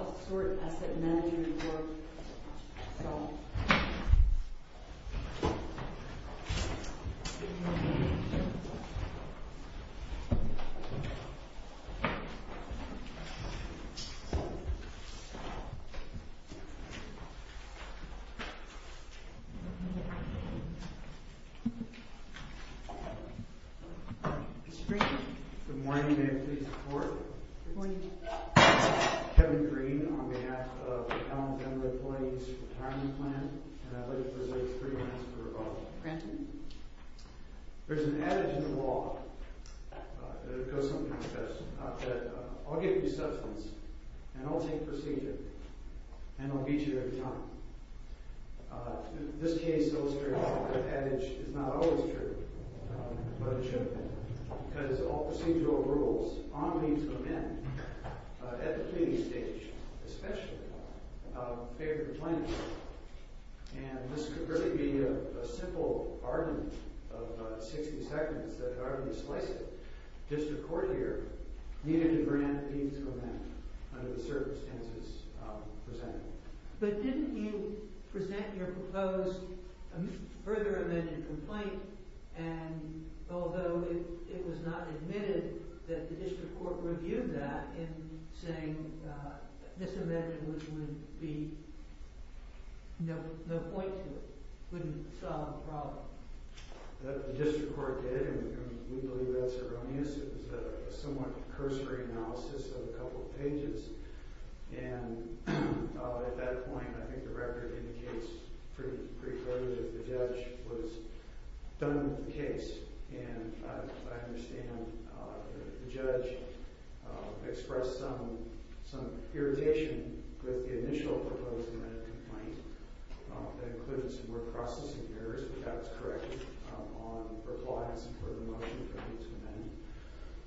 Altisource Asset Mgmt Good morning. May I please have the floor? Good morning. Kevin Green, on behalf of Allen Family Employees Retirement Plan. And I'd like to present three minutes for rebuttal. Granted. There's an adage in the law that goes something like this. I'll give you substance, and I'll take procedure, and I'll beat you every time. This case illustrates that that adage is not always true. Because all procedural rules, on leave to amend, at the pleading stage, especially, favor complaints. And this could really be a simple argument of 60 seconds, that if I were to slice it, district court here needed to grant leave to amend, under the circumstances presented. But didn't you present your proposed, further amended complaint, and although it was not admitted, that the district court reviewed that, in saying this amendment would be, no point to it. Wouldn't solve the problem. The district court did, and we believe that's erroneous. It was a somewhat cursory analysis of a couple of pages. And at that point, I think the record indicates pretty clearly that the judge was done with the case. And I understand the judge expressed some irritation with the initial proposed amendment complaint. That included some more processing errors, but that was corrected on compliance and further motion for leave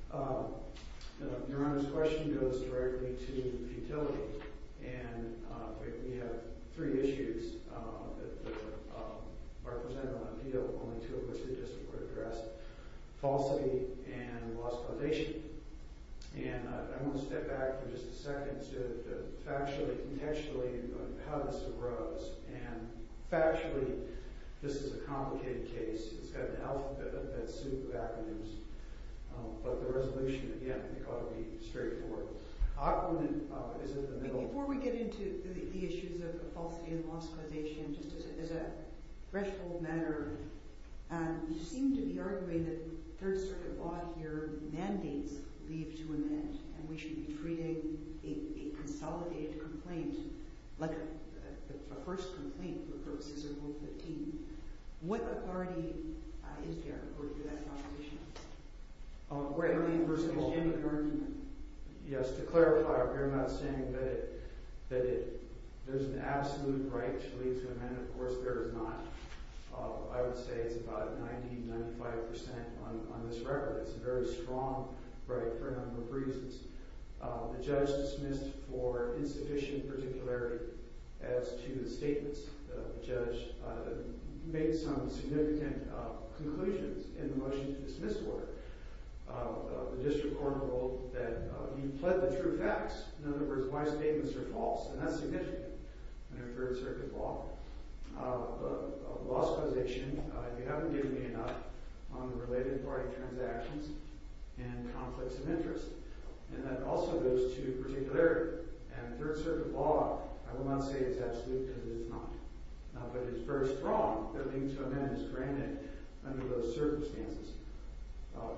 to amend. Your Honor's question goes directly to futility. And we have three issues that were represented on appeal. Only two of which the district court addressed. Falsity and lost validation. And I want to step back for just a second to the factually, contextually, how this arose. And factually, this is a complicated case. It's got an alphabet that's suited to acronyms. But the resolution, again, I think ought to be straightforward. Our opponent is in the middle. Before we get into the issues of falsity and lost causation, just as a threshold matter, you seem to be arguing that Third Circuit law here mandates leave to amend. And we should be treating a consolidated complaint like a first complaint for purposes of Rule 15. What authority is there according to that composition? First of all, yes, to clarify, I'm not saying that there's an absolute right to leave to amend. Of course, there is not. I would say it's about 90, 95% on this record. It's a very strong right for a number of reasons. The judge dismissed for insufficient particularity as to the statements. The judge made some significant conclusions in the motion to dismiss order. The district court ruled that he pled the true facts. In other words, my statements are false. And that's significant under Third Circuit law. Lost causation, you haven't given me enough on the related party transactions and conflicts of interest. And that also goes to particularity. And Third Circuit law, I will not say it's absolute because it's not. But it's very strong that leave to amend is granted under those circumstances.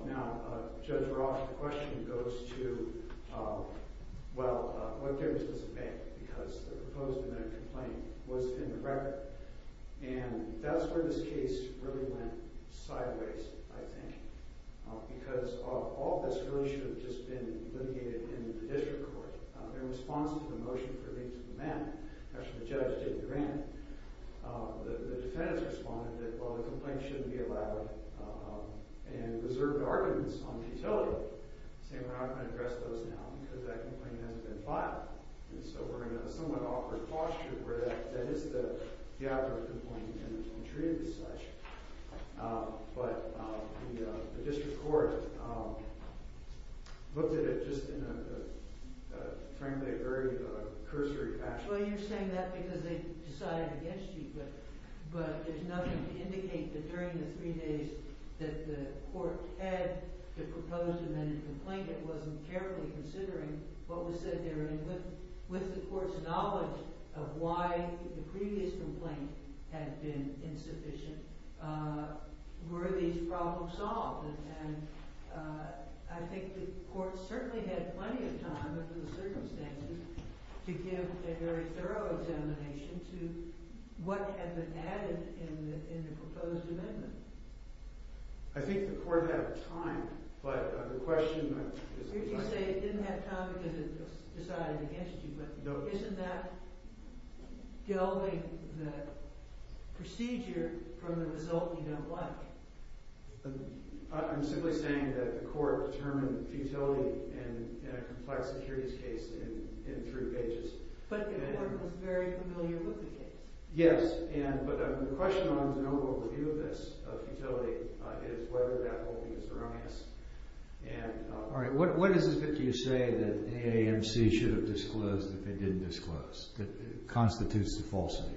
Now, Judge Roth, the question goes to, well, what difference does it make? Because the proposed amendment complaint was in the record. And that's where this case really went sideways, I think. Because all of this really should have just been litigated in the district court. In response to the motion for leave to amend, actually the judge didn't grant it, the defendants responded that, well, the complaint shouldn't be allowed and reserved arguments on the utility. Saying we're not going to address those now because that complaint hasn't been filed. And so we're in a somewhat awkward posture where that is the outcome of a complaint and it's being treated as such. But the district court looked at it just in a, frankly, very cursory fashion. Well, you're saying that because they decided against you. But there's nothing to indicate that during the three days that the court had to propose an amendment complaint, it wasn't carefully considering what was said there. And with the court's knowledge of why the previous complaint had been insufficient, were these problems solved? And I think the court certainly had plenty of time under the circumstances to give a very thorough examination to what had been added in the proposed amendment. I think the court had time. You say it didn't have time because it was decided against you, but isn't that delving the procedure from the result you don't like? I'm simply saying that the court determined futility in a complex securities case in three pages. But the court was very familiar with the case. Yes, but the question on the overall view of this, of futility, is whether that will be the surroundings. All right, what is it that you say that AAMC should have disclosed that they didn't disclose, that constitutes the falsity?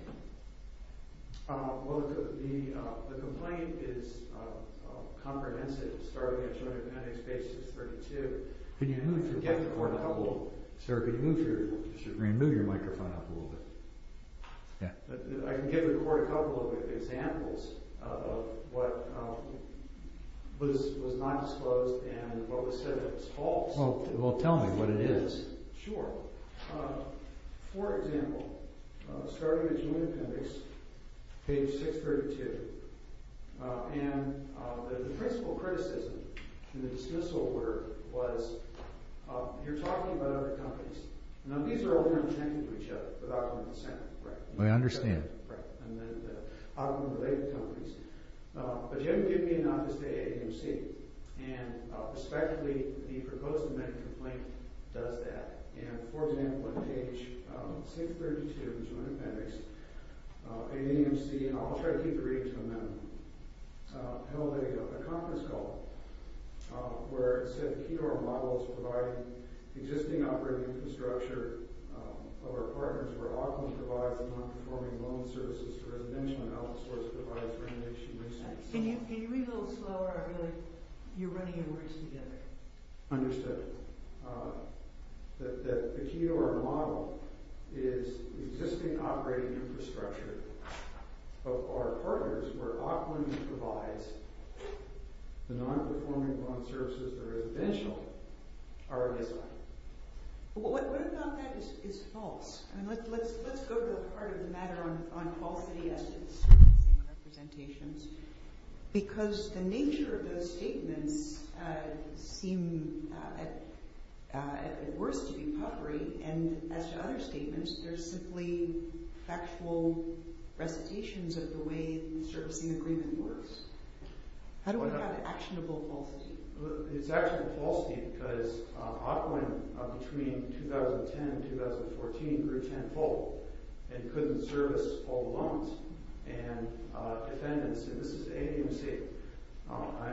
Well, the complaint is comprehensive, starting at Joint Appendix Basis 32. Can you move your microphone up a little bit? I can give the court a couple of examples of what was not disclosed and what was said that was false. Well, tell me what it is. Sure. For example, starting at Joint Appendix, page 632. And the principal criticism in the dismissal order was, you're talking about other companies. Now, these are all more intangible to each other. I understand. But you haven't given me enough as to AAMC. And respectively, the proposed amendment complaint does that. And, for example, at page 632 of the Joint Appendix, AAMC, and I'll try to keep reading from them, held a conference call where it said, Can you read a little slower? I feel like you're running your words together. Understood. That the key to our model is the existing operating infrastructure of our partners where Auckland provides the non-performing law and services of the residential area. What about that is false? Let's go to the part of the matter on falsity as to servicing representations. Because the nature of those statements seem, at worst, to be potpourri. And as to other statements, they're simply factual recitations of the way the servicing agreement works. How do we have actionable falsity? It's actionable falsity because Auckland, between 2010 and 2014, grew tenfold and couldn't service all loans. And defendants, and this is AAMC,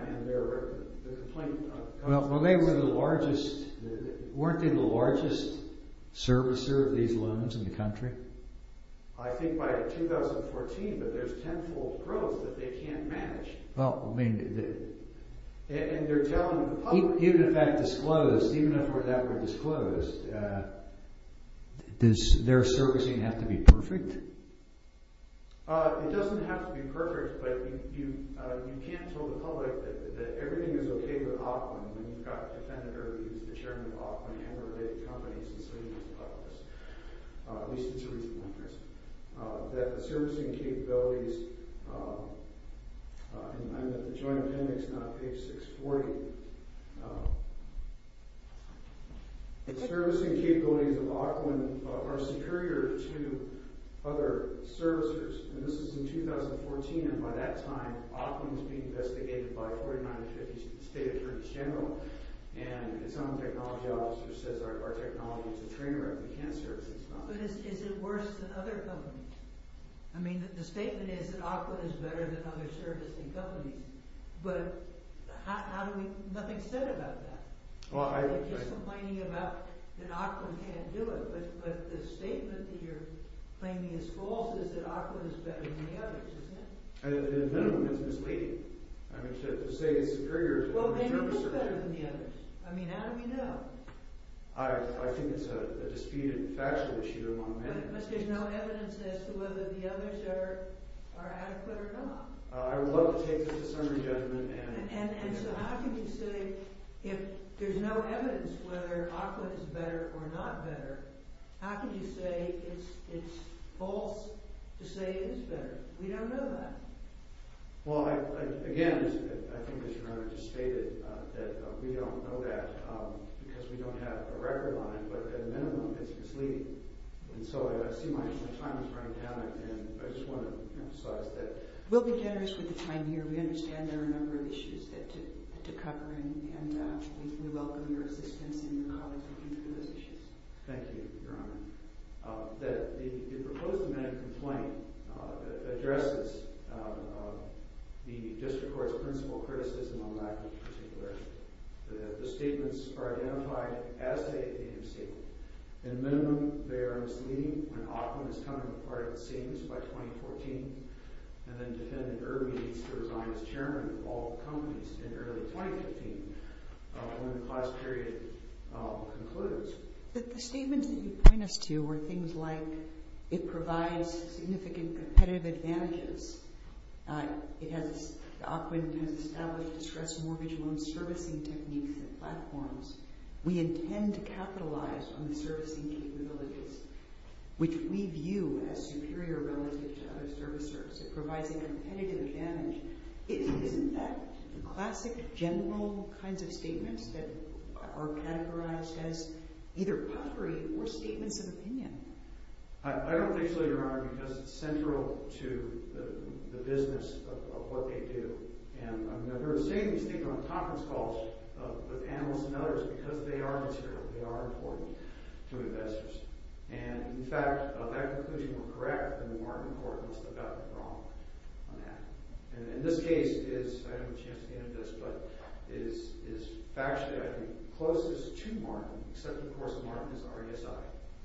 and their complaint... Well, weren't they the largest servicer of these loans in the country? I think by 2014, but there's tenfold growth that they can't manage. And they're telling the public, even if that were disclosed, does their servicing have to be perfect? It doesn't have to be perfect, but you can't tell the public that everything is okay with Auckland. When you've got a defendant or he's the chairman of Auckland and related companies and so he's the publicist. At least it's a reasonable interest. That the servicing capabilities... I'm at the Joint Appendix, not page 640. The servicing capabilities of Auckland are superior to other servicers. And this is in 2014, and by that time, Auckland is being investigated by 4950 State Attorney General. And its own technology officer says our technology is a train wreck, we can't service these companies. But is it worse than other companies? I mean, the statement is that Auckland is better than other servicing companies. But nothing's said about that. They're just complaining about that Auckland can't do it. But the statement that you're claiming is false is that Auckland is better than the others, isn't it? In a minimum, it's misleading. I mean, to say it's superior to other servicers... Well, maybe it's better than the others. I mean, how do we know? I think it's a disputed factual issue among many. But there's no evidence as to whether the others are adequate or not. I would love to take this to some re-judgment and... And so how can you say, if there's no evidence whether Auckland is better or not better, how can you say it's false to say it is better? We don't know that. Well, again, I think that Your Honour just stated that we don't know that because we don't have a record on it. But at a minimum, it's misleading. And so I see my time is running down. And I just want to emphasize that... We'll be generous with the time here. We understand there are a number of issues to cover. And we welcome your assistance and your colleagues working through those issues. Thank you, Your Honour. The proposed amendment complaint addresses the District Court's principal criticism on the lack of particularity. The statements are identified as stated in the statement. At a minimum, they are misleading when Auckland is coming apart, it seems, by 2014, and then defendant Irby needs to resign as chairman of all companies in early 2015 when the class period concludes. The statements that you point us to are things like, it provides significant competitive advantages. Auckland has established a stress mortgage loan servicing technique and platforms. We intend to capitalize on the servicing capabilities, which we view as superior relative to other servicers. It provides a competitive advantage. Isn't that the classic general kinds of statements that are categorized as either puffery or statements of opinion? I don't think so, Your Honour, because it's central to the business of what they do. There are statements made on conference calls with analysts and others because they are material, they are important to investors. And, in fact, that conclusion was correct and the Martin Court must have gotten it wrong on that. And this case is, I don't have a chance to get into this, but is factually, I think, closest to Martin, except, of course, that Martin is RASI,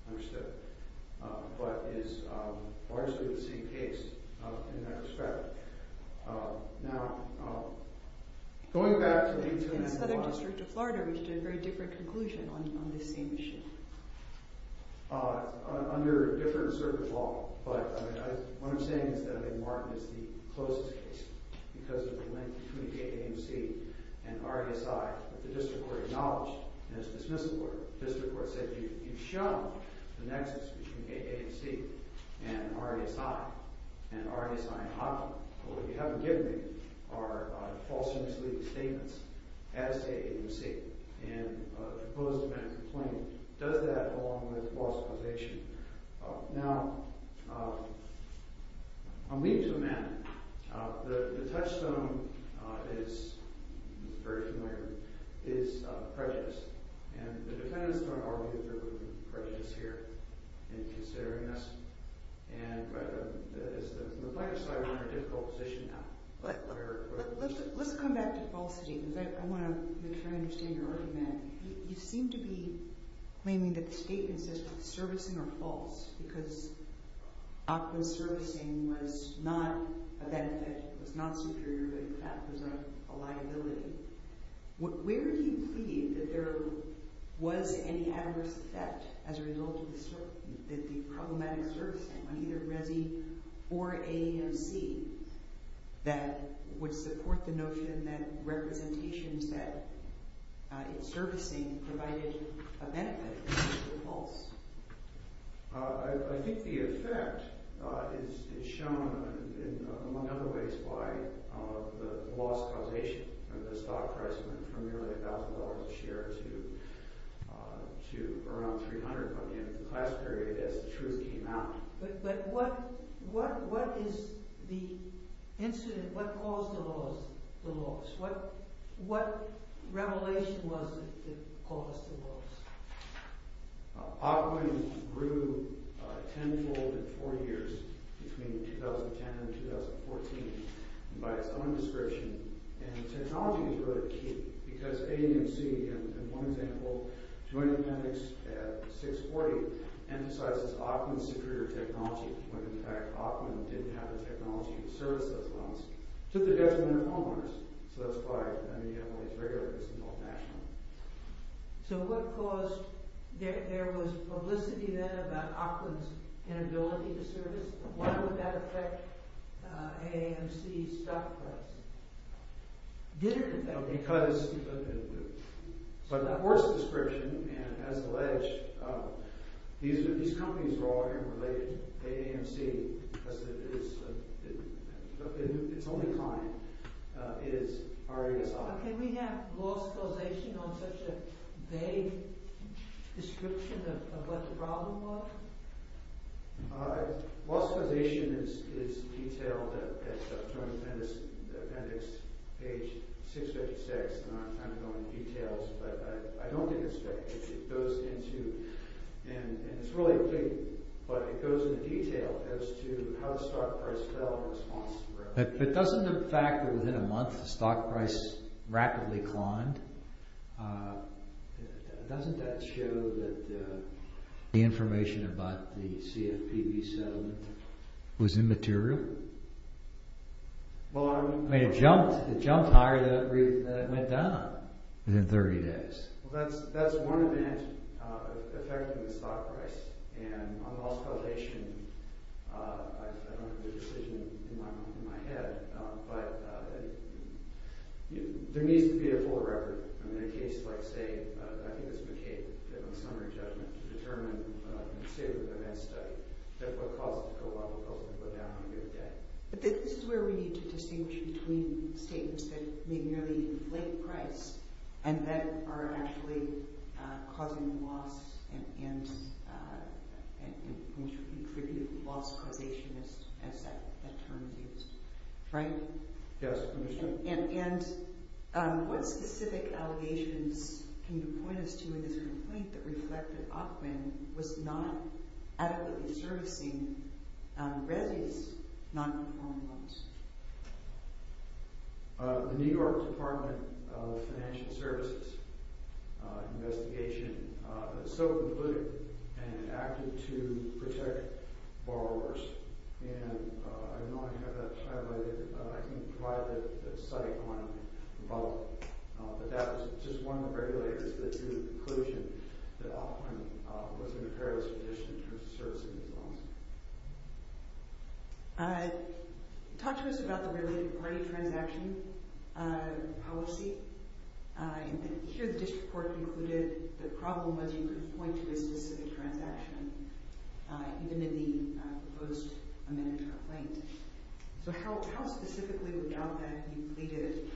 understood, but is largely the same case in that respect. Now, going back to the Internet... In the Southern District of Florida, we've done a very different conclusion on this same issue. Under different circuit law. But what I'm saying is that Martin is the closest case because of the link between AAMC and RASI. But the district court acknowledged and has dismissed the court. The district court said, you've shown the nexus between AAMC and RASI, and RASI and Hopkins. But what you haven't given me are false and misleading statements as to AAMC. And a proposed defense complaint does that along with false accusation. Now, I'll leave it to Amanda. The touchstone is, very familiar, is prejudice. And the defendants don't argue that there could be prejudice here in considering us. And from the plaintiff's side, we're in a difficult position now. Let's come back to falsity. I want to make sure I understand your argument. You seem to be claiming that the statement says that servicing are false because ACWA's servicing was not a benefit, was not superior, but in fact was a liability. Where do you plead that there was any adverse effect as a result of the problematic servicing on either RASI or AAMC that would support the notion that representations that it's servicing provided a benefit were false? I think the effect is shown among other ways by the loss causation of the stock price from nearly $1,000 a share to around $300 million in the class period as the truth came out. But what is the incident? What caused the loss? What revelation was it that caused the loss? ACWA grew tenfold in four years, between 2010 and 2014, by its own discretion. And technology is really key because AAMC, in one example, Joint Appendix 640, emphasizes Auckland's superior technology, when in fact Auckland didn't have the technology to service those loans to the detriment of homeowners. So that's why AAMC regularly gets involved nationally. So what caused, there was publicity then about Auckland's inability to service. Why would that affect AAMC's stock price? Bitterly. But that worst description, and as alleged, these companies are all interrelated, AAMC, because its only client is RASI. Can we have loss causation on such a vague description of what the problem was? Loss causation is detailed at Joint Appendix page 656. I'm not going into details, but I don't think it's vague. It goes into, and it's really vague, but it goes into detail as to how the stock price fell in response to growth. But doesn't the fact that within a month the stock price rapidly climbed, doesn't that show that the information about the CFPB settlement was immaterial? It jumped higher than it went down. Within 30 days. That's one event affecting the stock price. And on loss causation, I don't have a decision in my head, but there needs to be a full record. In a case like, say, I think it was McCabe, in a summary judgment to determine, say with an NSTUDY, what caused the co-op to ultimately go down on a good day. But this is where we need to distinguish between statements that may merely reflect price and that are actually causing loss and contribute loss causation, as that term is. Frank? Yes, Commissioner. And what specific allegations can you point us to in this complaint that reflect that Aukman was not adequately servicing Resy's non-performing loans? The New York Department of Financial Services investigation was so concluded and acted to protect borrowers. And I don't know if I have that highlighted, but I can provide that site on the bulletin. But that was just one of the regulators that drew the conclusion that Aukman was in a perilous position in terms of servicing these loans. Talk to us about the related party transaction policy. Here, the district court concluded the problem was you couldn't point to a specific transaction, even in the proposed amended complaint. So how specifically would Aukman be pleaded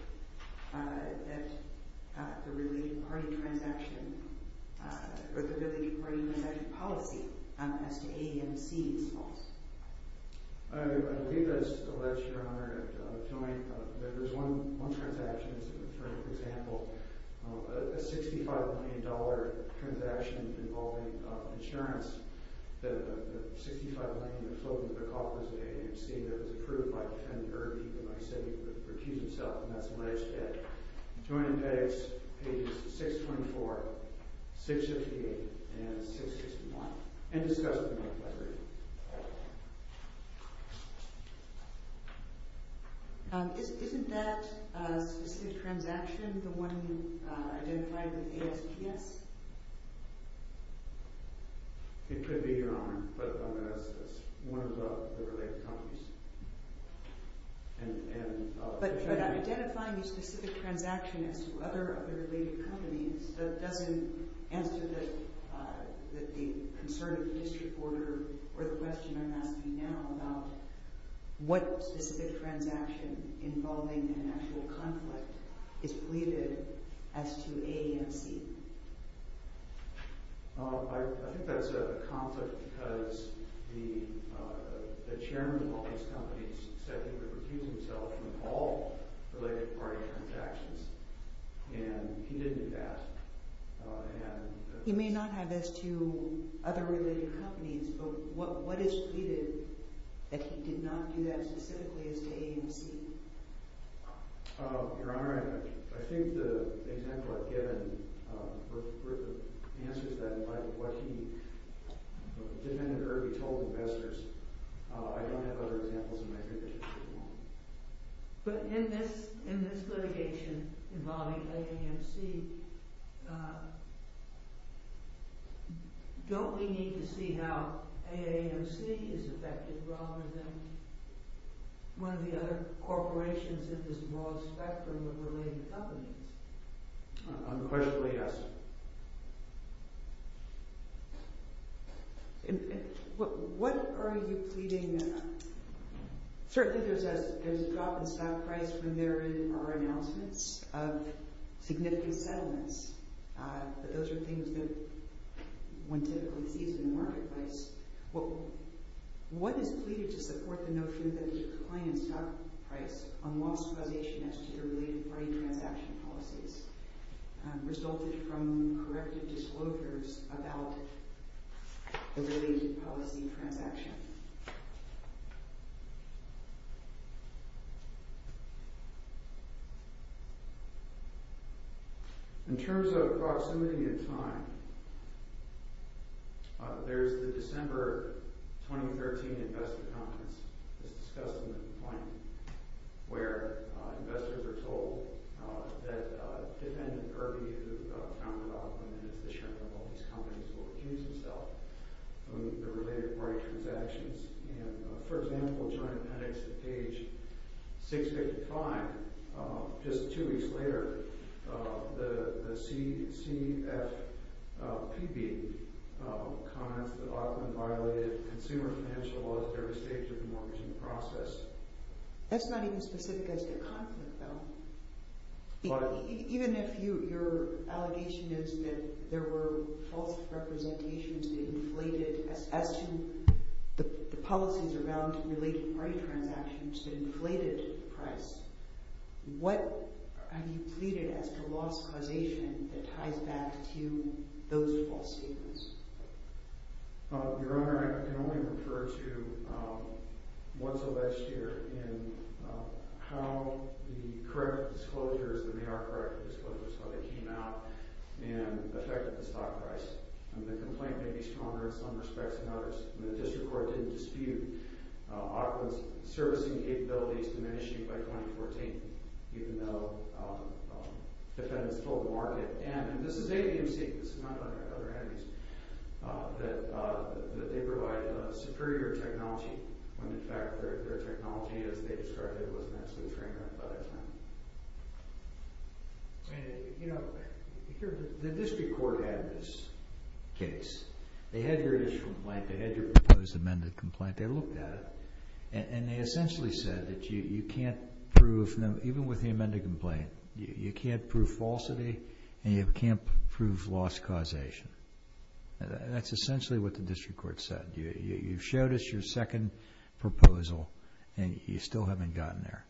that the related party transaction policy as to AAMC is false? I believe that it's alleged, Your Honor, that there's one transaction, for example, a $65 million transaction involving insurance. The $65 million floating in the coffers of AAMC that was approved by defendant Irving, even though he said he would refuse himself, and that's alleged. It's on page 624, 658, and 661. And discuss it with my colleague. Isn't that a specific transaction, the one you identified with ASPS? It could be, Your Honor, but I'm going to ask this. One of the related companies. But identifying a specific transaction as to other related companies doesn't answer the concern of the district court or the question I'm asking now about what specific transaction involving an actual conflict is pleaded as to AAMC. I think that's a conflict because the chairman of all these companies said he would refuse himself from all related party transactions. And he didn't do that. He may not have as to other related companies, but what is pleaded that he did not do that specifically as to AAMC? Your Honor, I think the example I've given answers that by what he, defendant Irving, told investors. I don't have other examples in my fingertips at the moment. But in this litigation involving AAMC, don't we need to see how AAMC is affected rather than one of the other corporations in this broad spectrum of related companies? Unquestionably, yes. What are you pleading? Certainly there's a drop in stock price when there are announcements of significant settlements. But those are things that one typically sees in the marketplace. What is pleaded to support the notion that the decline in stock price on lost causation as to the related party transaction policies resulted from corrective disclosures about the related policy transaction? Yes. In terms of proximity of time, there's the December 2013 investor conference that's discussed in the point where investors are told that defendant Irving, who is the founder of them and the chairman of all these companies, will accuse himself of the related party transactions. For example, during appendix at page 655, just two weeks later, the CFPB comments that Auckland violated consumer financial laws at every stage of the mortgaging process. That's not even specific as to the conflict, though. Even if your allegation is that there were false representations that inflated as to the policies around related party transactions that inflated the price, what have you pleaded as to lost causation that ties back to those false statements? Your Honor, I can only refer to what's the last year and how the corrective disclosures, that they are corrective disclosures, how they came out and affected the stock price. The complaint may be stronger in some respects than others. The district court didn't dispute Auckland's servicing capabilities diminishing by 2014, even though defendants filled the market. And this is ABMC, this is not like our other enemies, that they provide superior technology when in fact their technology, as they described it, wasn't actually framed up by that time. You know, the district court had this case. They had your initial complaint, they had your proposed amended complaint, they looked at it, and they essentially said that you can't prove, even with the amended complaint, you can't prove falsity, and you can't prove lost causation. That's essentially what the district court said. You showed us your second proposal and you still haven't gotten there.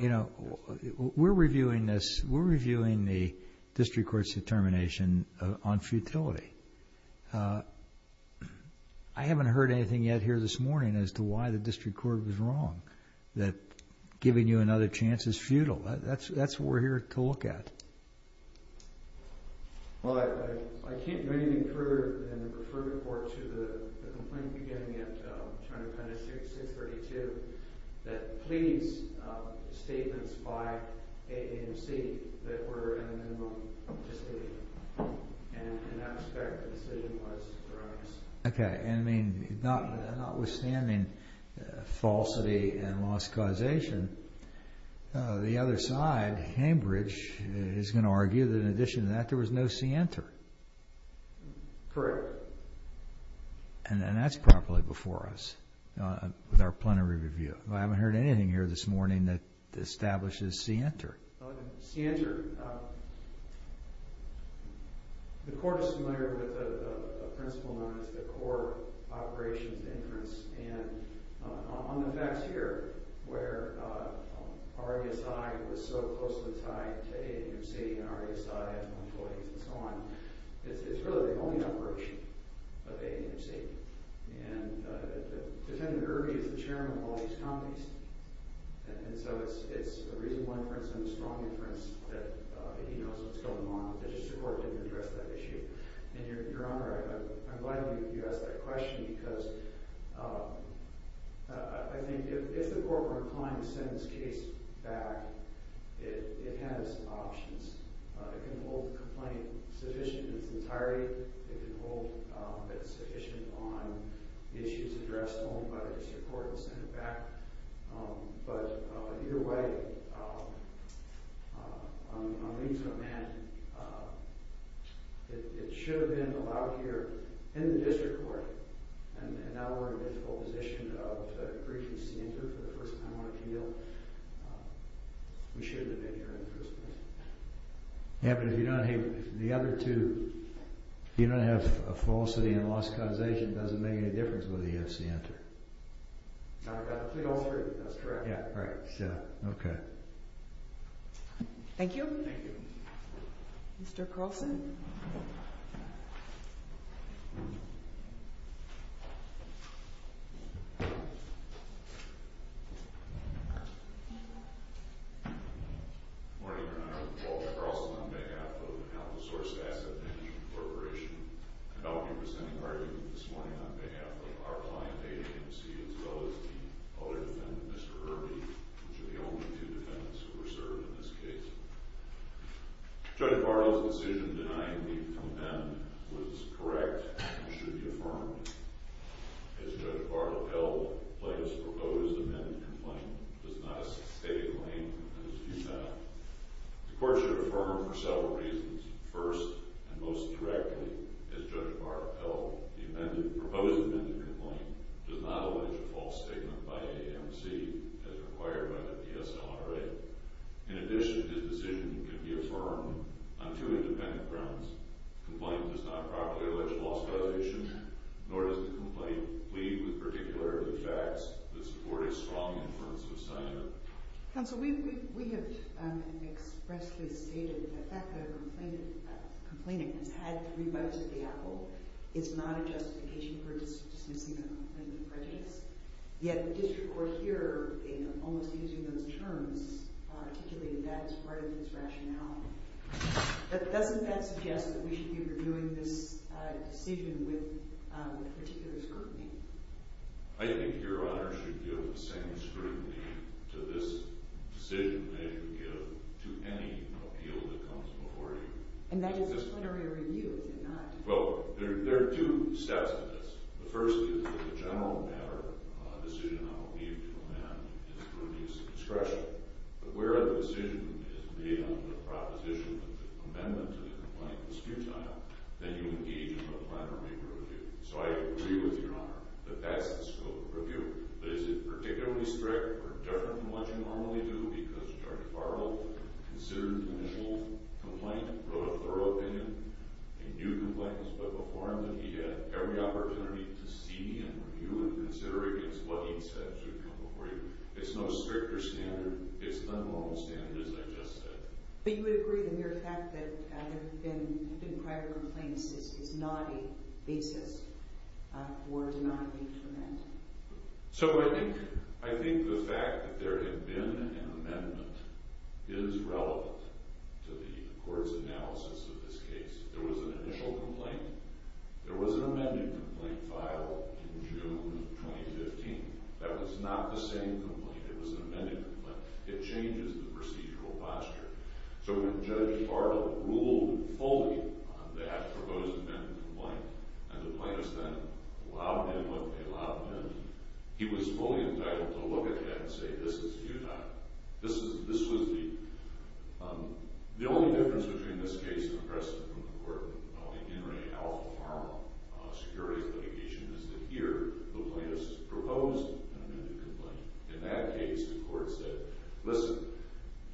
You know, we're reviewing this, we're reviewing the district court's determination on futility. I haven't heard anything yet here this morning as to why the district court was wrong, that giving you another chance is futile. That's what we're here to look at. Well, I can't do anything further than refer the court to the complaint beginning at 632, that please statements by AAMC that were in the minimum justification. And in that respect, the decision was erroneous. Okay, and notwithstanding falsity and lost causation, the other side, Cambridge, is going to argue that in addition to that there was no scienter. Correct. And that's properly before us with our plenary review. I haven't heard anything here this morning that establishes scienter. Scienter, the court is familiar with the principle known as the core operations inference and on the facts here, where RASI was so closely tied to AAMC and RASI and so on, it's really the only operation of AAMC. And Defendant Irby is the chairman of all these companies. And so it's a reasonable inference and a strong inference that he knows what's going on. It's just the court didn't address that issue. And Your Honor, I'm glad you asked that question because I think if the court were inclined to send this case back, it has options. It can hold the complaint sufficient in its entirety. It can hold that it's sufficient on the issues addressed only by the district court and send it back. But either way, on the means of a man, it should have been allowed here in the district court. And now we're in a difficult position of a brief in scienter for the first time on appeal. We shouldn't have been here happened. If you don't have the other two, you don't have a falsity and lost causation. Doesn't make any difference whether you have to enter. That's correct. Right. Okay. Thank you. Mr Carlson. Morning, Your Honor. Walter Carlson on behalf of the Alamo Source Asset Management Corporation. And I'll be presenting arguments this morning on behalf of our client, AAMC, as well as the other defendant, Mr. Irby, which are the only two defendants who were served in this case. Judge Varlo's decision denying me the compendium was correct and should be affirmed. As Judge Varlo held, Plato's proposed amended complaint was not a stated claim The court should affirm for several reasons. First, and most directly, as Judge Varlo held, the proposed amended complaint does not allege a false statement by AAMC as required by the DSLRA. In addition, his decision can be affirmed on two independent grounds. The complaint does not properly allege lost causation, nor does the complaint plead with particular facts that support a strong inference of science. Counsel, we have expressly stated that the fact that a complainant has had three bites at the apple is not a justification for dismissing a complaint of prejudice. Yet the district court here, in almost using those terms, articulated that as part of its rationality. Doesn't that suggest that we should be reviewing this decision with particular scrutiny? I think Your Honor should give the same scrutiny to this decision that you give to any appeal that comes before you. And that is a plenary review, is it not? Well, there are two steps to this. The first is that the general matter of the decision I will leave to amend is to reduce discretion. But where the decision is made on the proposition of the amendment to the complaint is futile, then you engage in a plenary review. So I agree with Your Honor that that's the scope of review. But is it particularly strict or different from what you normally do? Because Judge Farrell considered the initial complaint, wrote a thorough opinion, and knew complaints, but before him that he had every opportunity to see and review and consider against what he said should come before you. It's not a stricter standard. It's not a normal standard, as I just said. But you would agree the mere fact that there have been prior complaints is not a basis for denoting to amend? So I think the fact that there had been an amendment is relevant to the court's analysis of this case. There was an initial complaint. There was an amended complaint filed in June of 2015. That was not the same complaint. It was an amended complaint. It changes the procedural posture. So when Judge Farrell ruled fully on that proposed amendment to the complaint, and the plaintiffs then allowed him he was fully entitled to look at that and say, this is futile. This was the... The only difference between this case and the precedent from the court of the N. Ray L. Farrell securities litigation is that here the plaintiffs proposed an amended complaint. In that case, the court said, listen,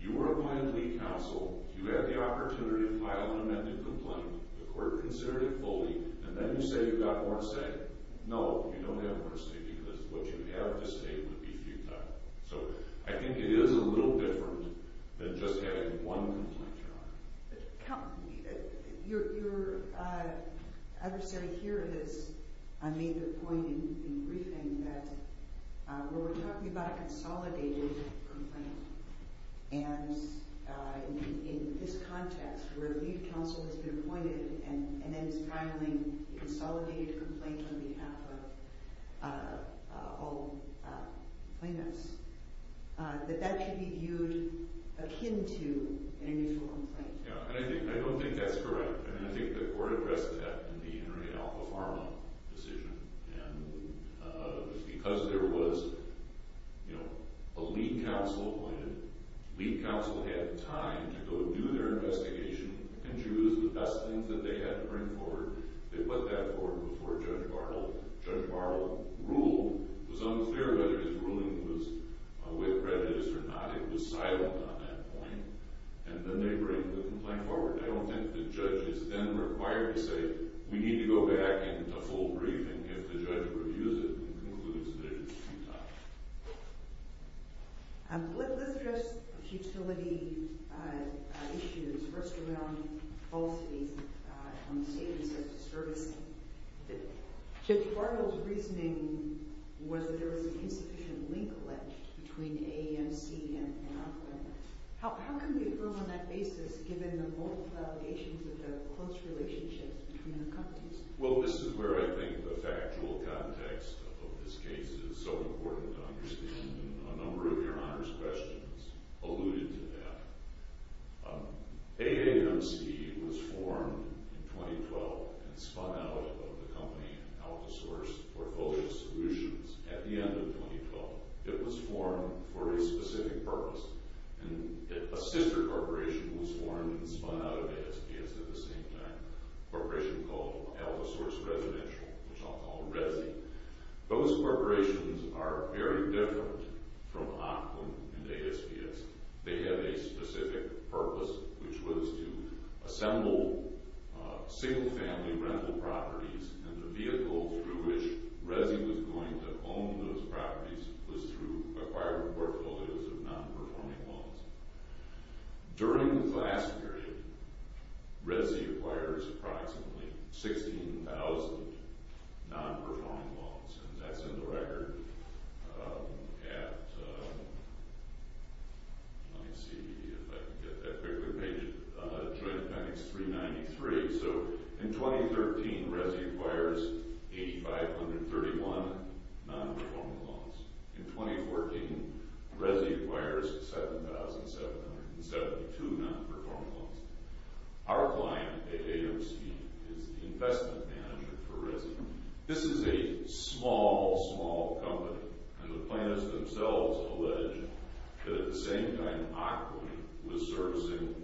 you were appointed lead counsel. You had the opportunity to file an amended complaint. The court considered it fully, and then you say you got more to say. No, you don't have more to say because what you have to say would be futile. So I think it is a little different than just having one complaint. Your... I understand here is I made the point in the briefing that when we're talking about a consolidated complaint and in this context where the lead counsel has been appointed and then is filing a consolidated complaint on behalf of all plaintiffs that that should be viewed akin to an initial complaint. I don't think that's correct. I think the court addressed that in the N. Ray L. Farrell decision. Because there was a lead counsel appointed, lead counsel had time to go do their investigation and choose the best thing that they had to bring forward. They put that forward before Judge Bartle. Judge Bartle ruled. It was unclear whether his ruling was with prejudice or not. It was silent on that point. And then they bring the complaint forward. I don't think the judge is then required to say, we need to go back into full briefing if the judge reviews it and concludes that it is futile. Um, with this address of futility issues, first around falsities on the statements of disturbances, Judge Bartle's reasoning was that there was an insufficient link ledged between A and C and our claimants. How can we affirm on that basis given the multiple allegations of a close relationship between the companies? Well, this is where I think the factual context of this case is so important to understand. A number of your Honor's questions alluded to that. Um, AAMC was formed in 2012 and spun out of the company, AlphaSource, for both solutions at the end of 2012. It was formed for a specific purpose. A sister corporation was formed and spun out of ASPS at the same time, a corporation called AlphaSource Residential, which I'll call Resi. Those corporations are very different from Auckland and ASPS. They have a specific purpose, which was to assemble single family rental properties and the vehicle through which Resi was going to own those properties was through acquiring portfolios of non-performing loans. During the last period, Resi acquired approximately 16,000 non-performing loans and that's in the record at let me see if I can get that quickly joint appendix 393 so in 2013 Resi acquires 8,531 non-performing loans. In 2014 Resi acquires 7,772 non-performing loans. Our client at AAMC is the investment manager for a small, small company and the plaintiffs themselves allege that at the same time Auckland was servicing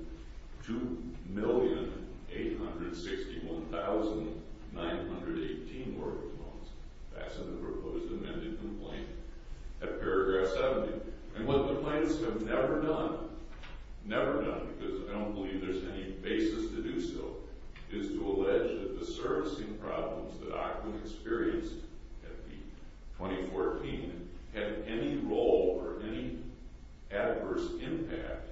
2,861,918 work loans. That's in the proposed amended complaint at paragraph 70. And what the plaintiffs have never done, never done because I don't believe there's any basis to do so, is to allege that the servicing problems that Auckland experienced in 2014 had any role or any adverse impact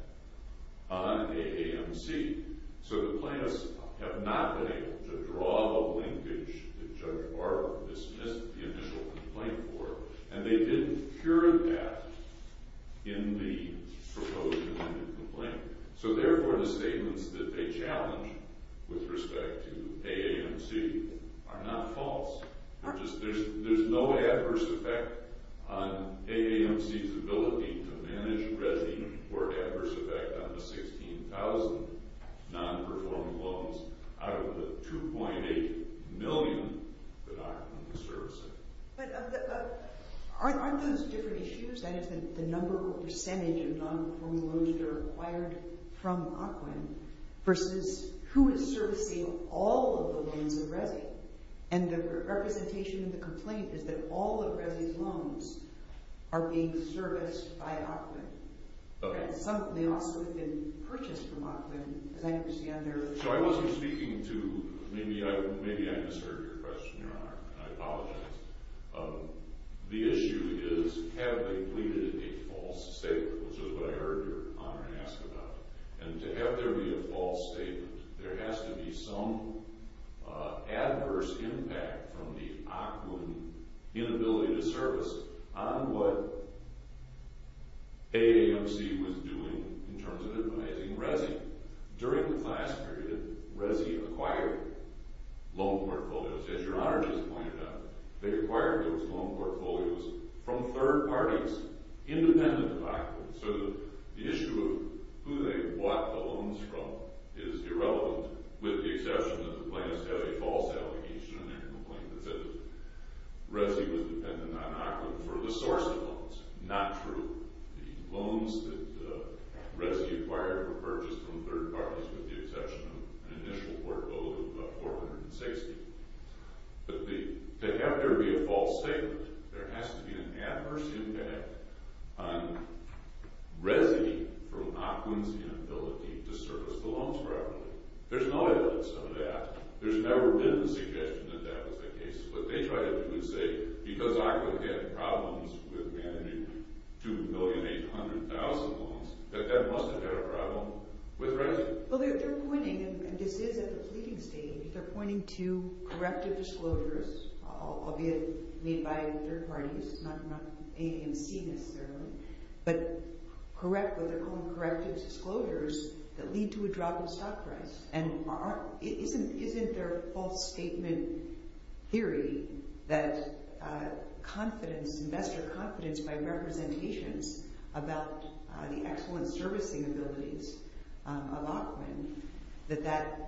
on AAMC. So the plaintiffs have not been able to draw the linkage that Judge Barber dismissed the initial complaint for and they didn't cure that in the proposed amended complaint. So therefore the statements that they challenge with respect to AAMC are not false. There's no adverse effect on AAMC's ability to manage Resi or adverse effect on the 16,000 non-performing loans out of the 2.8 million that Auckland is servicing. But aren't those different issues? The number or percentage of non-performing loans that are acquired from Auckland versus who is servicing all of the loans of Resi. And the representation of the complaint is that all of Resi's loans are being serviced by Auckland. They also have been purchased from Auckland as I understand their... So I wasn't speaking to... Maybe I misheard your question, Your Honour, and I apologise. The issue is, have they pleaded a false statement? Which is what I heard Your Honour ask about. And to have there be a false statement there has to be some adverse impact from the Auckland inability to service on what AAMC was doing in terms of advising Resi. During the class period, Resi acquired loan portfolios, as Your Honour just pointed out. They acquired those loan portfolios from third parties independent of Auckland. So the issue of who they bought the loans from is irrelevant, with the exception that the plaintiffs have a false allegation on their complaint that says Resi was dependent on Auckland for the source of loans. Not true. The loans that Resi acquired were purchased from third parties with the exception of an initial portfolio of 460. But the... To have there be a false statement there has to be an adverse impact on Resi from Auckland's inability to service the loans properly. There's no evidence of that. There's never been a suggestion that that was the case. What they try to do is say because Auckland had problems with managing 2,800,000 loans, that that must have had a problem with Resi. Well they're pointing, and this is at the pleading stage, they're pointing to corrective disclosures albeit made by third parties not AAMC necessarily but correct what they're calling corrective disclosures that lead to a drop in stock price and isn't there a false statement theory that confidence, investor confidence by representations about the excellent servicing abilities of Auckland that that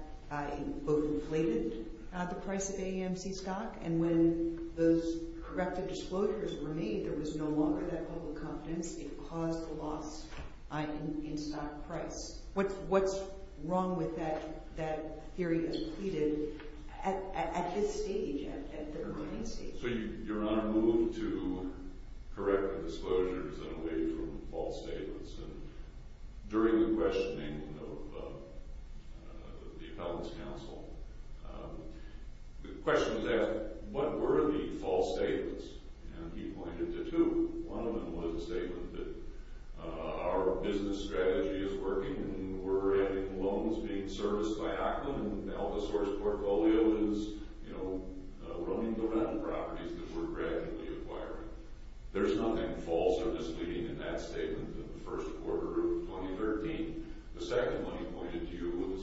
both inflated the price of AAMC stock and when those corrective disclosures were made there was no longer that public confidence it caused a loss in stock price. What's wrong with that theory as pleaded at his stage at the remaining stage? So you're on a move to correct the disclosures and away from false statements and during the questioning of the Appellant's Council the question was asked, what were the false statements? And he pointed to two one of them was a statement that our business strategy is working and we're adding loans being serviced by Auckland and now the source portfolio is you know, running the rental properties that we're gradually acquiring. There's nothing false or misleading in that statement in the first quarter of 2013. The second one he pointed to was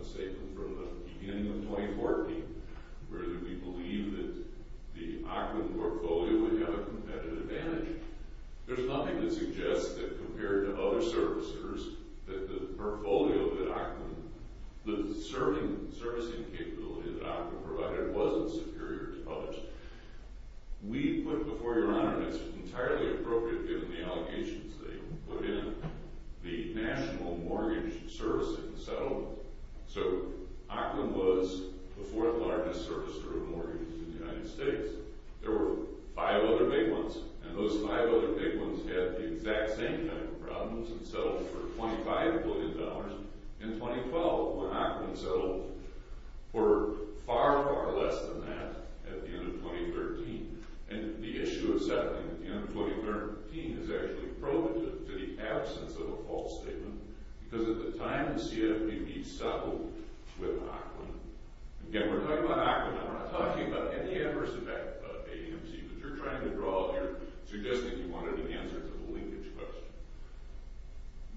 a statement from the beginning of 2014 where we believe that the Auckland portfolio would have a competitive advantage. There's nothing that suggests that compared to other servicers that the portfolio that Auckland, the servicing capability that Auckland provided wasn't superior to others. We put before Your Honour and it's entirely appropriate given the allegations they put in the National Mortgage Servicing Settlement. So, Auckland was the fourth largest servicer of mortgages in the United States. There were five other big ones and those five other big ones had the exact same kind of problems and settled for $25 billion in 2012 when Auckland settled for far, far less than that at the end of 2013. And the issue of settling in 2013 is actually provident to the absence of a false statement because at the time the CFPB settled with Auckland again we're talking about Auckland we're not talking about any adverse effect of AMC but you're trying to draw you're suggesting you wanted an answer to the linkage question.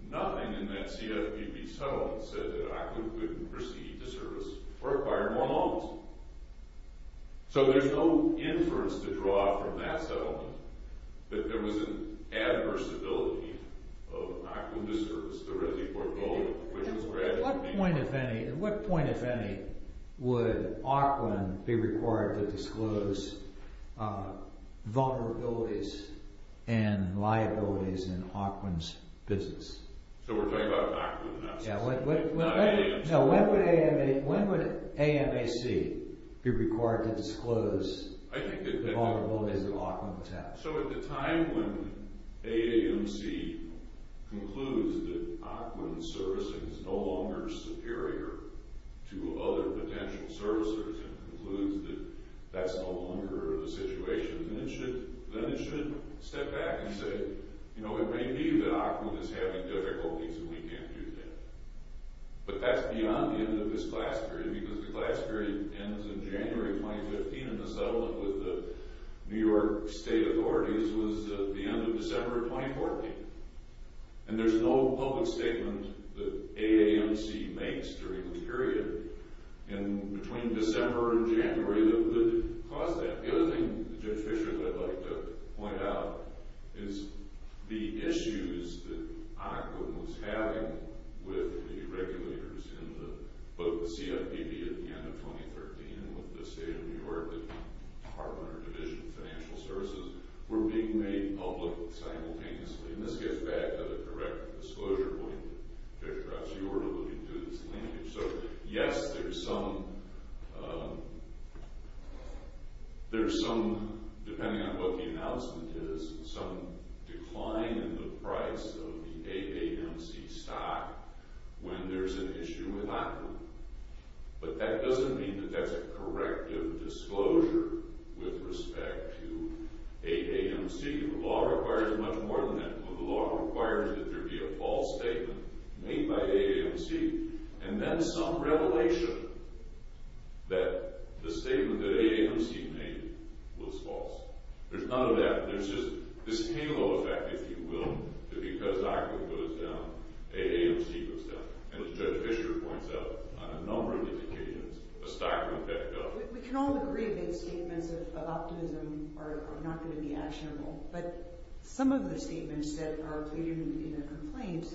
Nothing in that CFPB settlement said that Auckland couldn't proceed to service or acquire more loans. So there's no inference to draw from that settlement that there was an adversability of Auckland to service the Resley portfolio. At what point, if any, would Auckland be required to disclose vulnerabilities and liabilities in Auckland's business? So we're talking about Auckland in that sense. Not AMC. When would AMC be required to disclose the vulnerabilities that Auckland has? So at the time when AAMC concludes that Auckland's servicing is no longer superior to other potential servicers and concludes that that's no longer the situation then it should step back and say it may be that Auckland is having difficulties and we can't do that. But that's beyond the end of this class period because the class period ends in January 2015 and the settlement with the New York state authorities was at the end of December 2014. And there's no public statement that AAMC makes during this period. And between December and January that would cause that. The other thing that Judge Fisher would like to point out is the issues that Auckland was having with the regulators in both the CFPB at the end of 2013 with the state of New York and our division of financial services were being made public simultaneously. And this gets back to the correct disclosure point that perhaps you were looking to in this language. So yes, there's some there's some depending on what the announcement is some decline in the price of the AAMC stock when there's an issue with Auckland. But that doesn't mean that that's a corrective disclosure with respect to AAMC. The law requires much more than that. The law requires that there be a false statement made by AAMC and then some revelation that the statement that AAMC made was false. There's none of that. There's just this halo effect if you will, that because Auckland goes down, AAMC goes down. And as Judge Fisher points out on a number of these occasions, the stock went back up. We can all agree that statements of optimism are not going to be actionable. But some of the statements that are pleaded in the complaint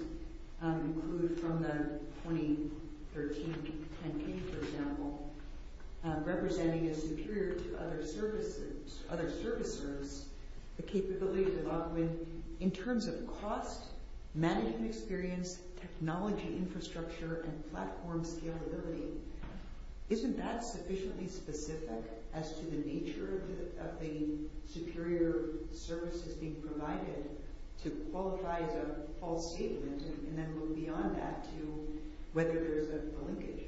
include from the 2013 campaign for example representing as superior to other services other servicers the capabilities of Auckland in terms of cost, management experience, technology infrastructure and platform scalability. Isn't that sufficiently specific as to the nature of the superior services being provided to qualify as a false statement and then move beyond that to whether there's a linkage.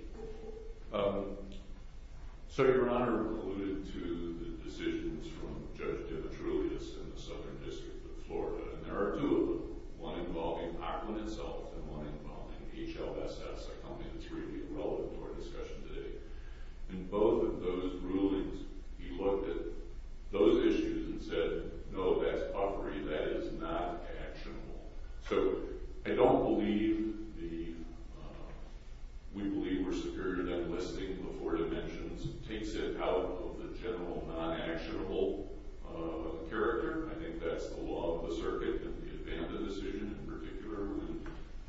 So Your Honour alluded to the decisions from Judge Demetrius in the Southern District of Auckland involving Auckland itself and one involving HLSS. I don't think it's really relevant to our discussion today. In both of those rulings he looked at those issues and said no that's puffery, that is not actionable. So I don't believe the we believe we're superior than listing the four dimensions takes it out of the general non-actionable character. I think that's the law of the circuit and the Advanta decision in particular when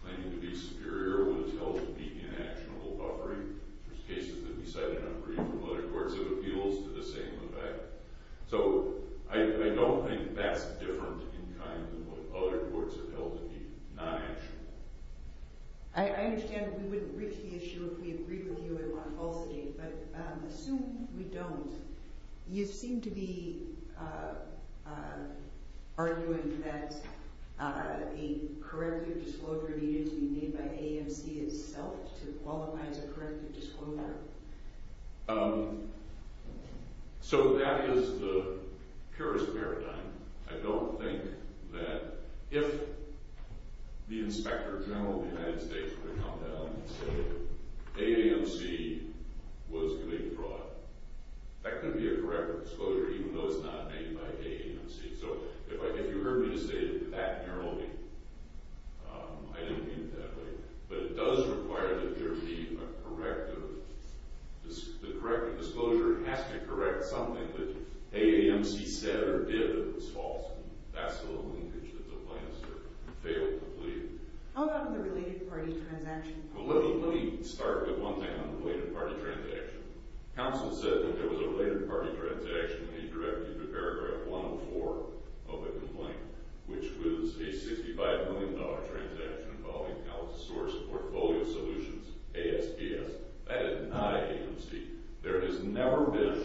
claiming to be superior was held to be inactionable puffery. There's cases that we cited puffery from other courts of appeals to the same effect. So I don't think that's different in kind than what other courts have held to be non-actionable. I understand we wouldn't reach the issue if we agreed with you on falsity but assume we don't. You seem to be arguing that the corrective disclosure needed to be made by AAMC itself to qualify as a corrective disclosure. So that is the purist paradigm. I don't think that if the inspector general of the United States were to come down and say AAMC was committing fraud that could be a corrective disclosure even though it's not made by AAMC. So if you were to say that narrowly I didn't mean it that way but it does require that there be a corrective disclosure. It has to correct something that AAMC said or did that was false. That's the linkage that the plaintiffs failed to leave. How about on the related party transaction? Let me start with one thing on the related party transaction. Counsel said that there was a related party transaction that he directed to paragraph 104 of the complaint which was a $65 million transaction involving Alcatraz portfolio solutions, ASPS. That is not AAMC. There has never been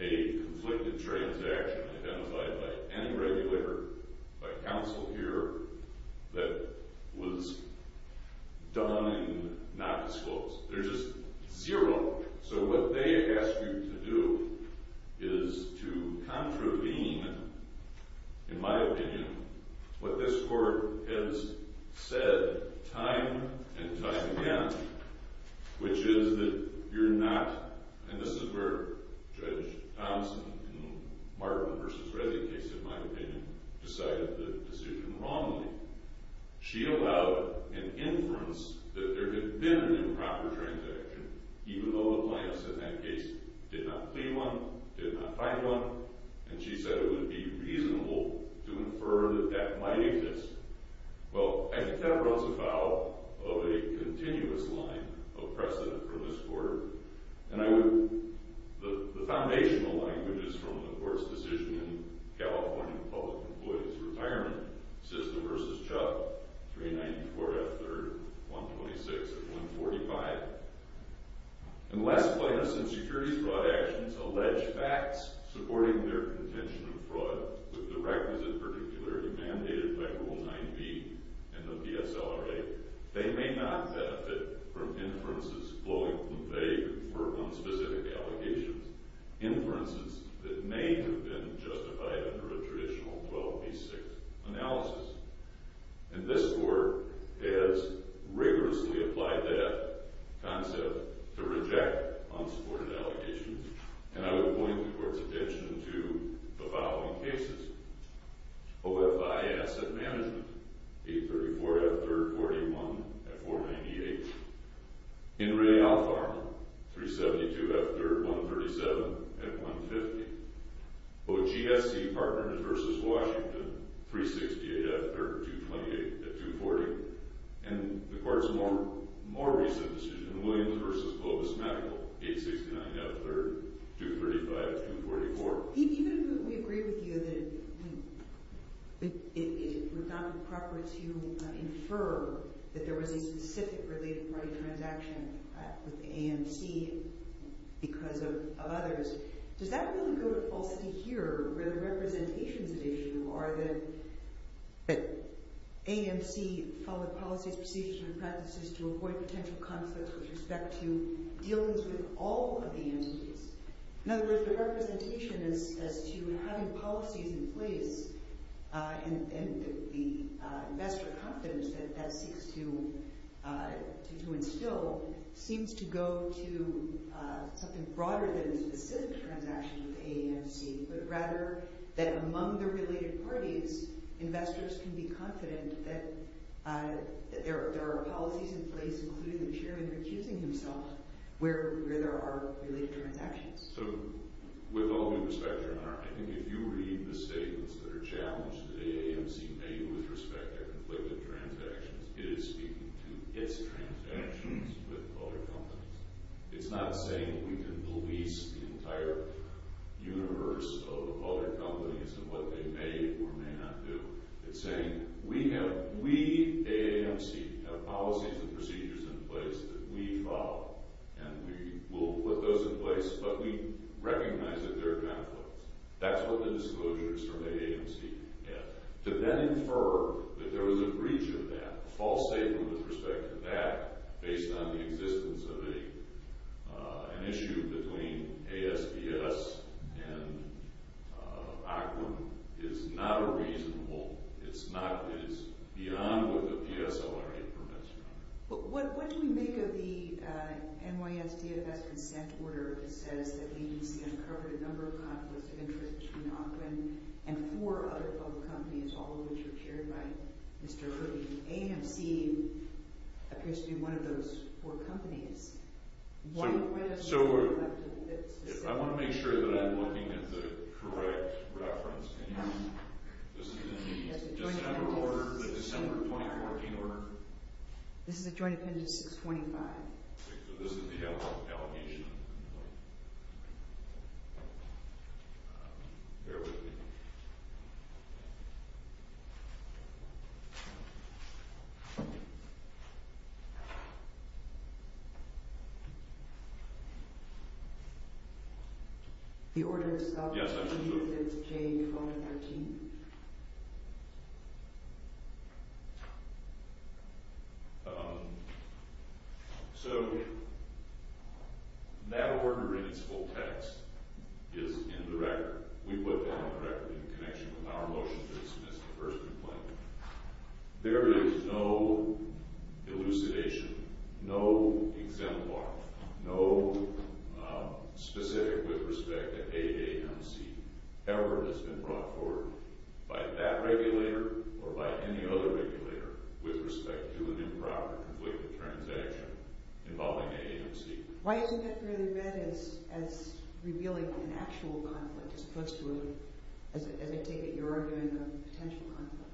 a conflicted transaction identified by any regulator, by counsel here, that was done and not disclosed. There's just zero. So what they ask you to do is to contravene in my opinion, what this court has said time and time again which is that you're not, and this is where Judge Thompson in the Martin v. Reddy case in my opinion, decided the decision wrongly. She allowed an inference that there had been an improper transaction, even though the plaintiff in that case did not plead one, did not find one, and she said it would be reasonable to infer that that might exist. Well, I think that runs afoul of a continuous line of precedent for this court and I would, the foundational language is from the court's decision in California Public Employees Retirement System v. Chuck 394 F. 3rd 126 of 145. Unless plaintiffs in securities fraud actions allege facts supporting their contention of fraud with the requisite particularity mandated by Rule 9b in the PSLRA, they may not benefit from inferences flowing vague or unspecific allegations, inferences that may have been justified under a traditional 12b-6 analysis. And this court has rigorously applied that concept to reject unsupported allegations, and I would point the court's attention to the following cases. OFI Asset Management 834 F. 3rd 41 at 498. In Re Alpharm 372 F. 3rd 137 at 150. OGSC Partners Williams v. Washington 368 F. 3rd 228 at 240. And the court's more recent decision, Williams v. Globus-Mackel 869 F. 3rd 235 at 244. Even if we agree with you that it is not appropriate to infer that there was a specific related fraud transaction with AMC because of others, does that really prove a falsity here where the representations at issue are that AMC followed policies, procedures, and practices to avoid potential conflicts with respect to dealings with all of the entities? In other words, the representation as to having policies in place and the investor confidence that that seeks to instill seems to go to something broader than a specific transaction with AAMC, but rather that among the related parties investors can be confident that there are policies in place, including the chairman recusing himself, where there are related transactions. So, with all due respect, I think if you read the statements that are challenged that AAMC made with respect to their conflict with transactions, it is speaking to its transactions with other companies. It's not saying we can release the entire universe of other companies and what they may or may not do. It's saying, we, AAMC, have policies and procedures in place that we follow, and we will put those in place, but we recognize that there are conflicts. That's what the disclosures from AAMC get. To then infer that there was a breach of that, a false statement with respect to that, based on the existence of an issue between ASPS and Auckland, is not a reasonable it's beyond what the PSLRA permits. What do we make of the NYS DFS consent order that says that the agency uncovered a number of conflicts of interest between Auckland and four other public companies, all of which are chaired by Mr. Hood. AAMC appears to be one of those four companies. So, I want to make sure that I'm looking at the correct reference. This is in the December 2014 order. This is a Joint Appendix 625. This is the allocation. Bear with me. Yes, I can do it. Yes, I can do it. So, that order in its full text is in the record. We put that on the record in connection with our motion to dismiss the first complaint. There is no elucidation, no exemplar, no specific with respect to AAMC ever has been brought forward by that regulator or by any other regulator with respect to an improper and wicked transaction involving AAMC. Why isn't that fairly bad as revealing an actual conflict as opposed to, as I take it, a potential conflict?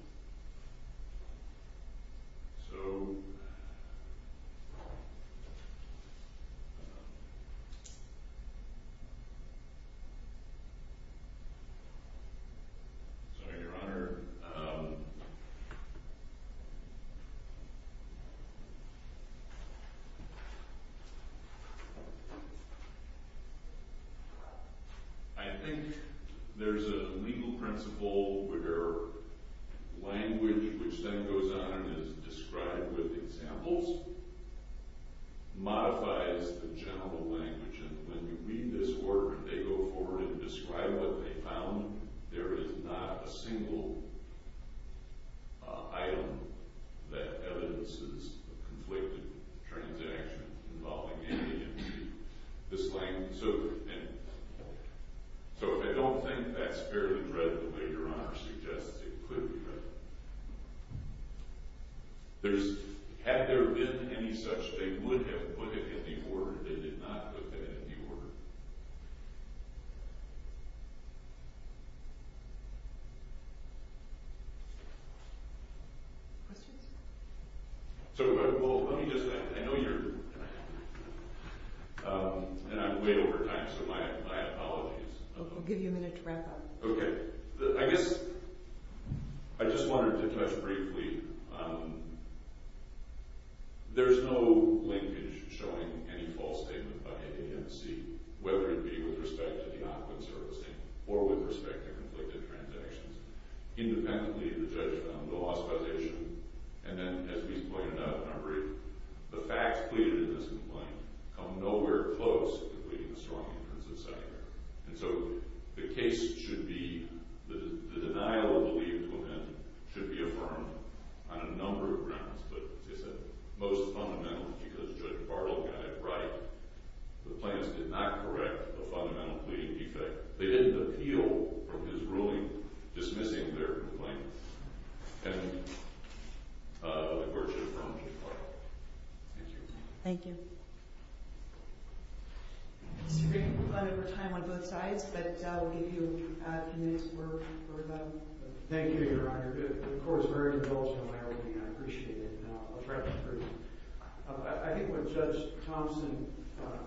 So... Sorry, Your Honor. I think there's a legal principle where language, which then goes on and is described with examples, modifies the general language, and when you read this order and they go forward and describe what they found, there is not a single item that evidences a conflicted transaction involving AAMC. This language... So if they don't think that's fairly read the way Your Honor suggests, it could be read. Had there been any such, they would have put it in the order. They did not put that in the order. Questions? So let me just... I know you're... My apologies. We'll give you a minute to wrap up. Okay. I guess... I just wanted to touch briefly on... There's no language showing any false statement by AAMC, whether it be with respect to the awkward servicing or with respect to conflicted transactions. Independently, the judge found the loss causation, and then, as we pointed out in our brief, the facts pleaded in this complaint come nowhere close to pleading a strong intrusive settlement. And so the case should be... The denial of the leave to amend should be affirmed on a number of grounds, but it's most fundamental because Judge Bartle got it right. The plaintiffs did not correct the fundamental pleading defect. They didn't appeal from his ruling, dismissing their complaint. And... The court should affirm to the court. Thank you. Mr. Green, we're running out of time on both sides, but I'll give you the next word. Thank you, Your Honor. The court is very indulgent in my opinion. I appreciate it. I'll try to be brief. I think what Judge Thompson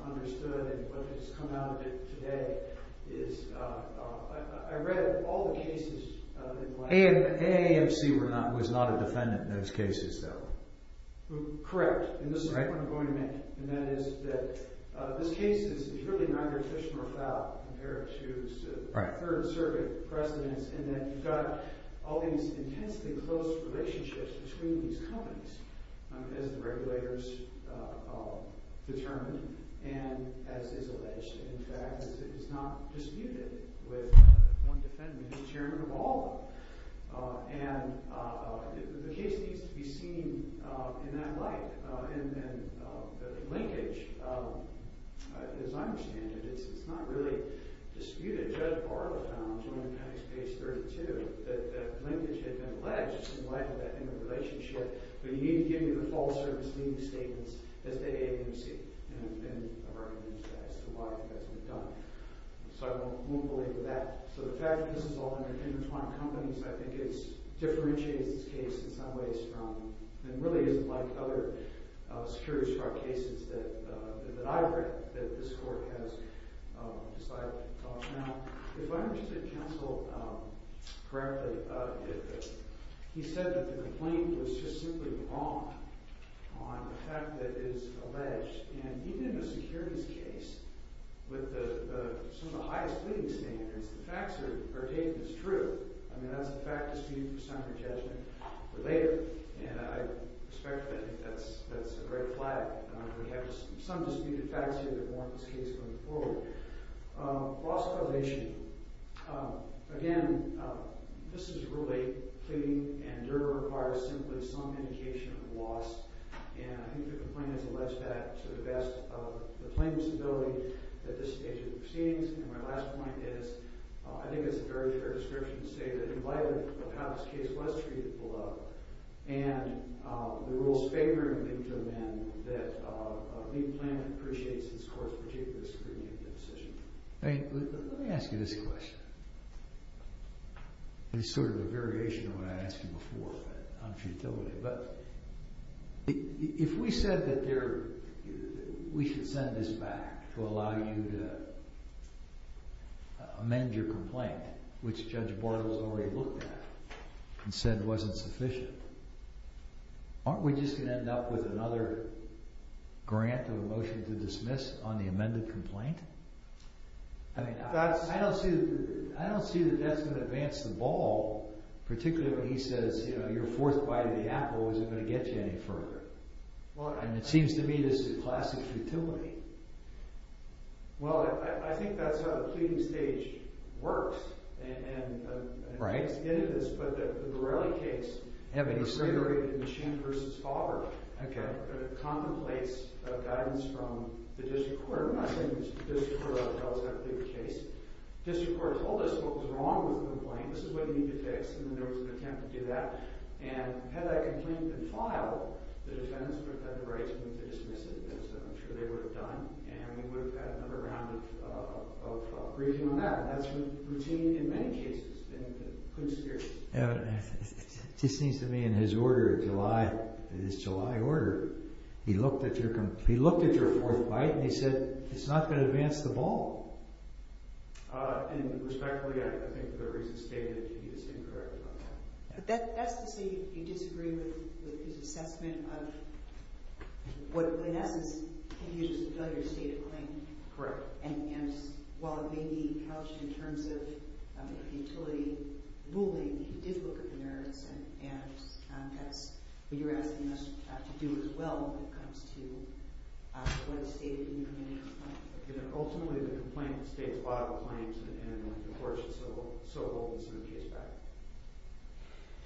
understood and what has come out of it today is I read all the cases in my... AAMC was not a defendant in those cases, though. Correct. And this is what I'm going to make. And that is that this case is really neither efficient or foul compared to the third circuit precedents in that you've got all these intensely close relationships between these companies as the regulators determined and as is alleged. In fact, it's not disputed with one defendant as chairman of all of them. And the case needs to be seen in that light. And the linkage, as I understand it, it's not really disputed. Judge Barla found, when I read page 32, that the linkage had been alleged in light of that interrelationship but you need to give me the false or misleading statements as to AAMC and I've already mentioned that. So why hasn't it been done? So I won't believe that. So the fact that this is all intertwined companies, I think it's differentiates this case in some ways from and really isn't like other securities fraud cases that I read that this court has decided to talk about. If I understood counsel correctly, he said that the complaint was just simply wrong on the fact that it is alleged. And even in a securities case with the some of the highest pleading standards, the facts are dated as true. I mean, that's a fact disputed for summary judgment for later. And I respect that. I think that's a great flag. We have some disputed facts here that warrant this case going forward. Lost validation. Again, this is Rule 8. Pleading and juror requires simply some indication of loss. And I think the complaint has alleged that to the best of the proceedings. And my last point is I think it's a very fair description to say that in light of how this case was treated below, and the rules favoring the men that the plaintiff appreciates this court's particular scrutiny of the decision. Let me ask you this question. It's sort of a variation of what I asked you before on futility, but if we said that we should send this back to allow you to amend your complaint, which Judge Bortles already looked at and said wasn't sufficient, aren't we just going to end up with another grant of a motion to dismiss on the amended complaint? I mean, I don't see that that's going to advance the ball, particularly when he says, you know, you're fourth by the apple. Is it going to get you any further? And it seems to me that this is classic futility. Well, I think that's how the pleading stage works, and it is, but the Borrelli case was reiterated in the Shand versus Fowler contemplates guidance from the district court. I'm not saying the district court ought to tell us how to plead the case. The district court told us what was wrong with the complaint, this is what you need to fix, and there was an attempt to do that, and had that complaint been filed, the defendants would have had the right to dismiss it, as I'm sure they would have done, and we would have had another round of briefing on that, and that's been routine in many cases in the conspiracy. It just seems to me, in his order, July, in his July order, he looked at your fourth bite, and he said, it's not going to advance the ball. And respectfully, I think the reason stated, he is incorrect about that. That's to say you disagree with his assessment of what, in essence, he used as a failure to state a claim. And while it may be couched in terms of utility ruling, he did look at the merits and that's what you're asking us to do as well when it comes to what is stated in your complaint. Ultimately, the complaint states a lot of the claims, and of course it's so old, it's in the case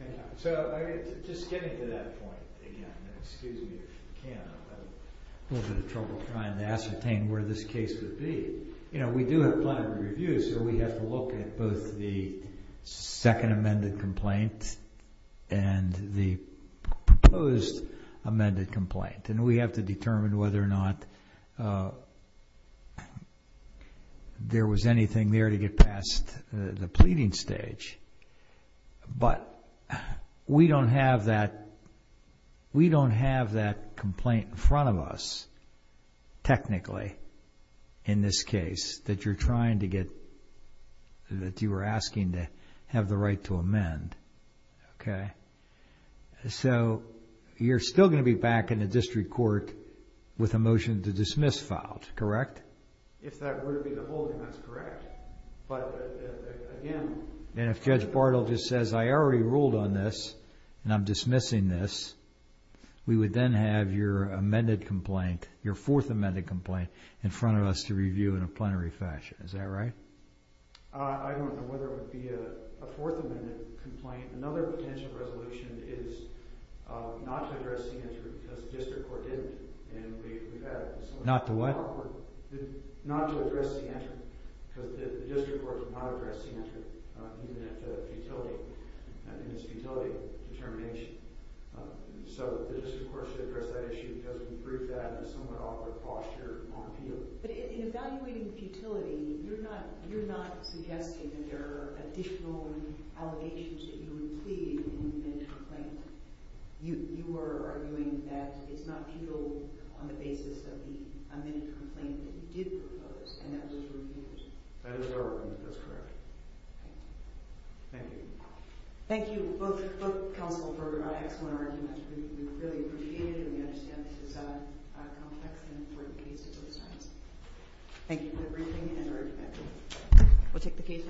file. So, just getting to that point again, excuse me if you can, I'm having a little bit of trouble trying to ascertain where this case would be. We do have plenty of reviews, so we have to look at both the second amended complaint and the proposed amended complaint. And we have to determine whether or not there was anything there to get past the but we don't have that complaint in front of us technically in this case that you're trying to get that you were asking to have the right to amend. Okay. So, you're still going to be back in the district court with a motion to dismiss filed, correct? If that were to be the holding, that's correct. But again, and if Judge Bartle just says, I already ruled on this, and I'm dismissing this, we would then have your amended complaint, your fourth amended complaint, in front of us to review in a plenary fashion. Is that right? I don't know whether it would be a fourth amended complaint. Another potential resolution is not to address the interim, because the district court didn't. Not to what? Not to address the interim, because the district court did not address the interim even after futility in its futility determination. So, the district court should address that issue because we proved that in a somewhat awkward posture on appeal. But in evaluating futility, you're not suggesting that there are additional allegations that you would plead in the amended complaint. You were arguing that it's not people on the basis of the amended complaint that you did agree with others. That is correct. Thank you. Thank you, both counsel for your excellent argument. We really appreciate it, and we understand this is a complex and important case. Thank you for the briefing and your argument. We'll take the case.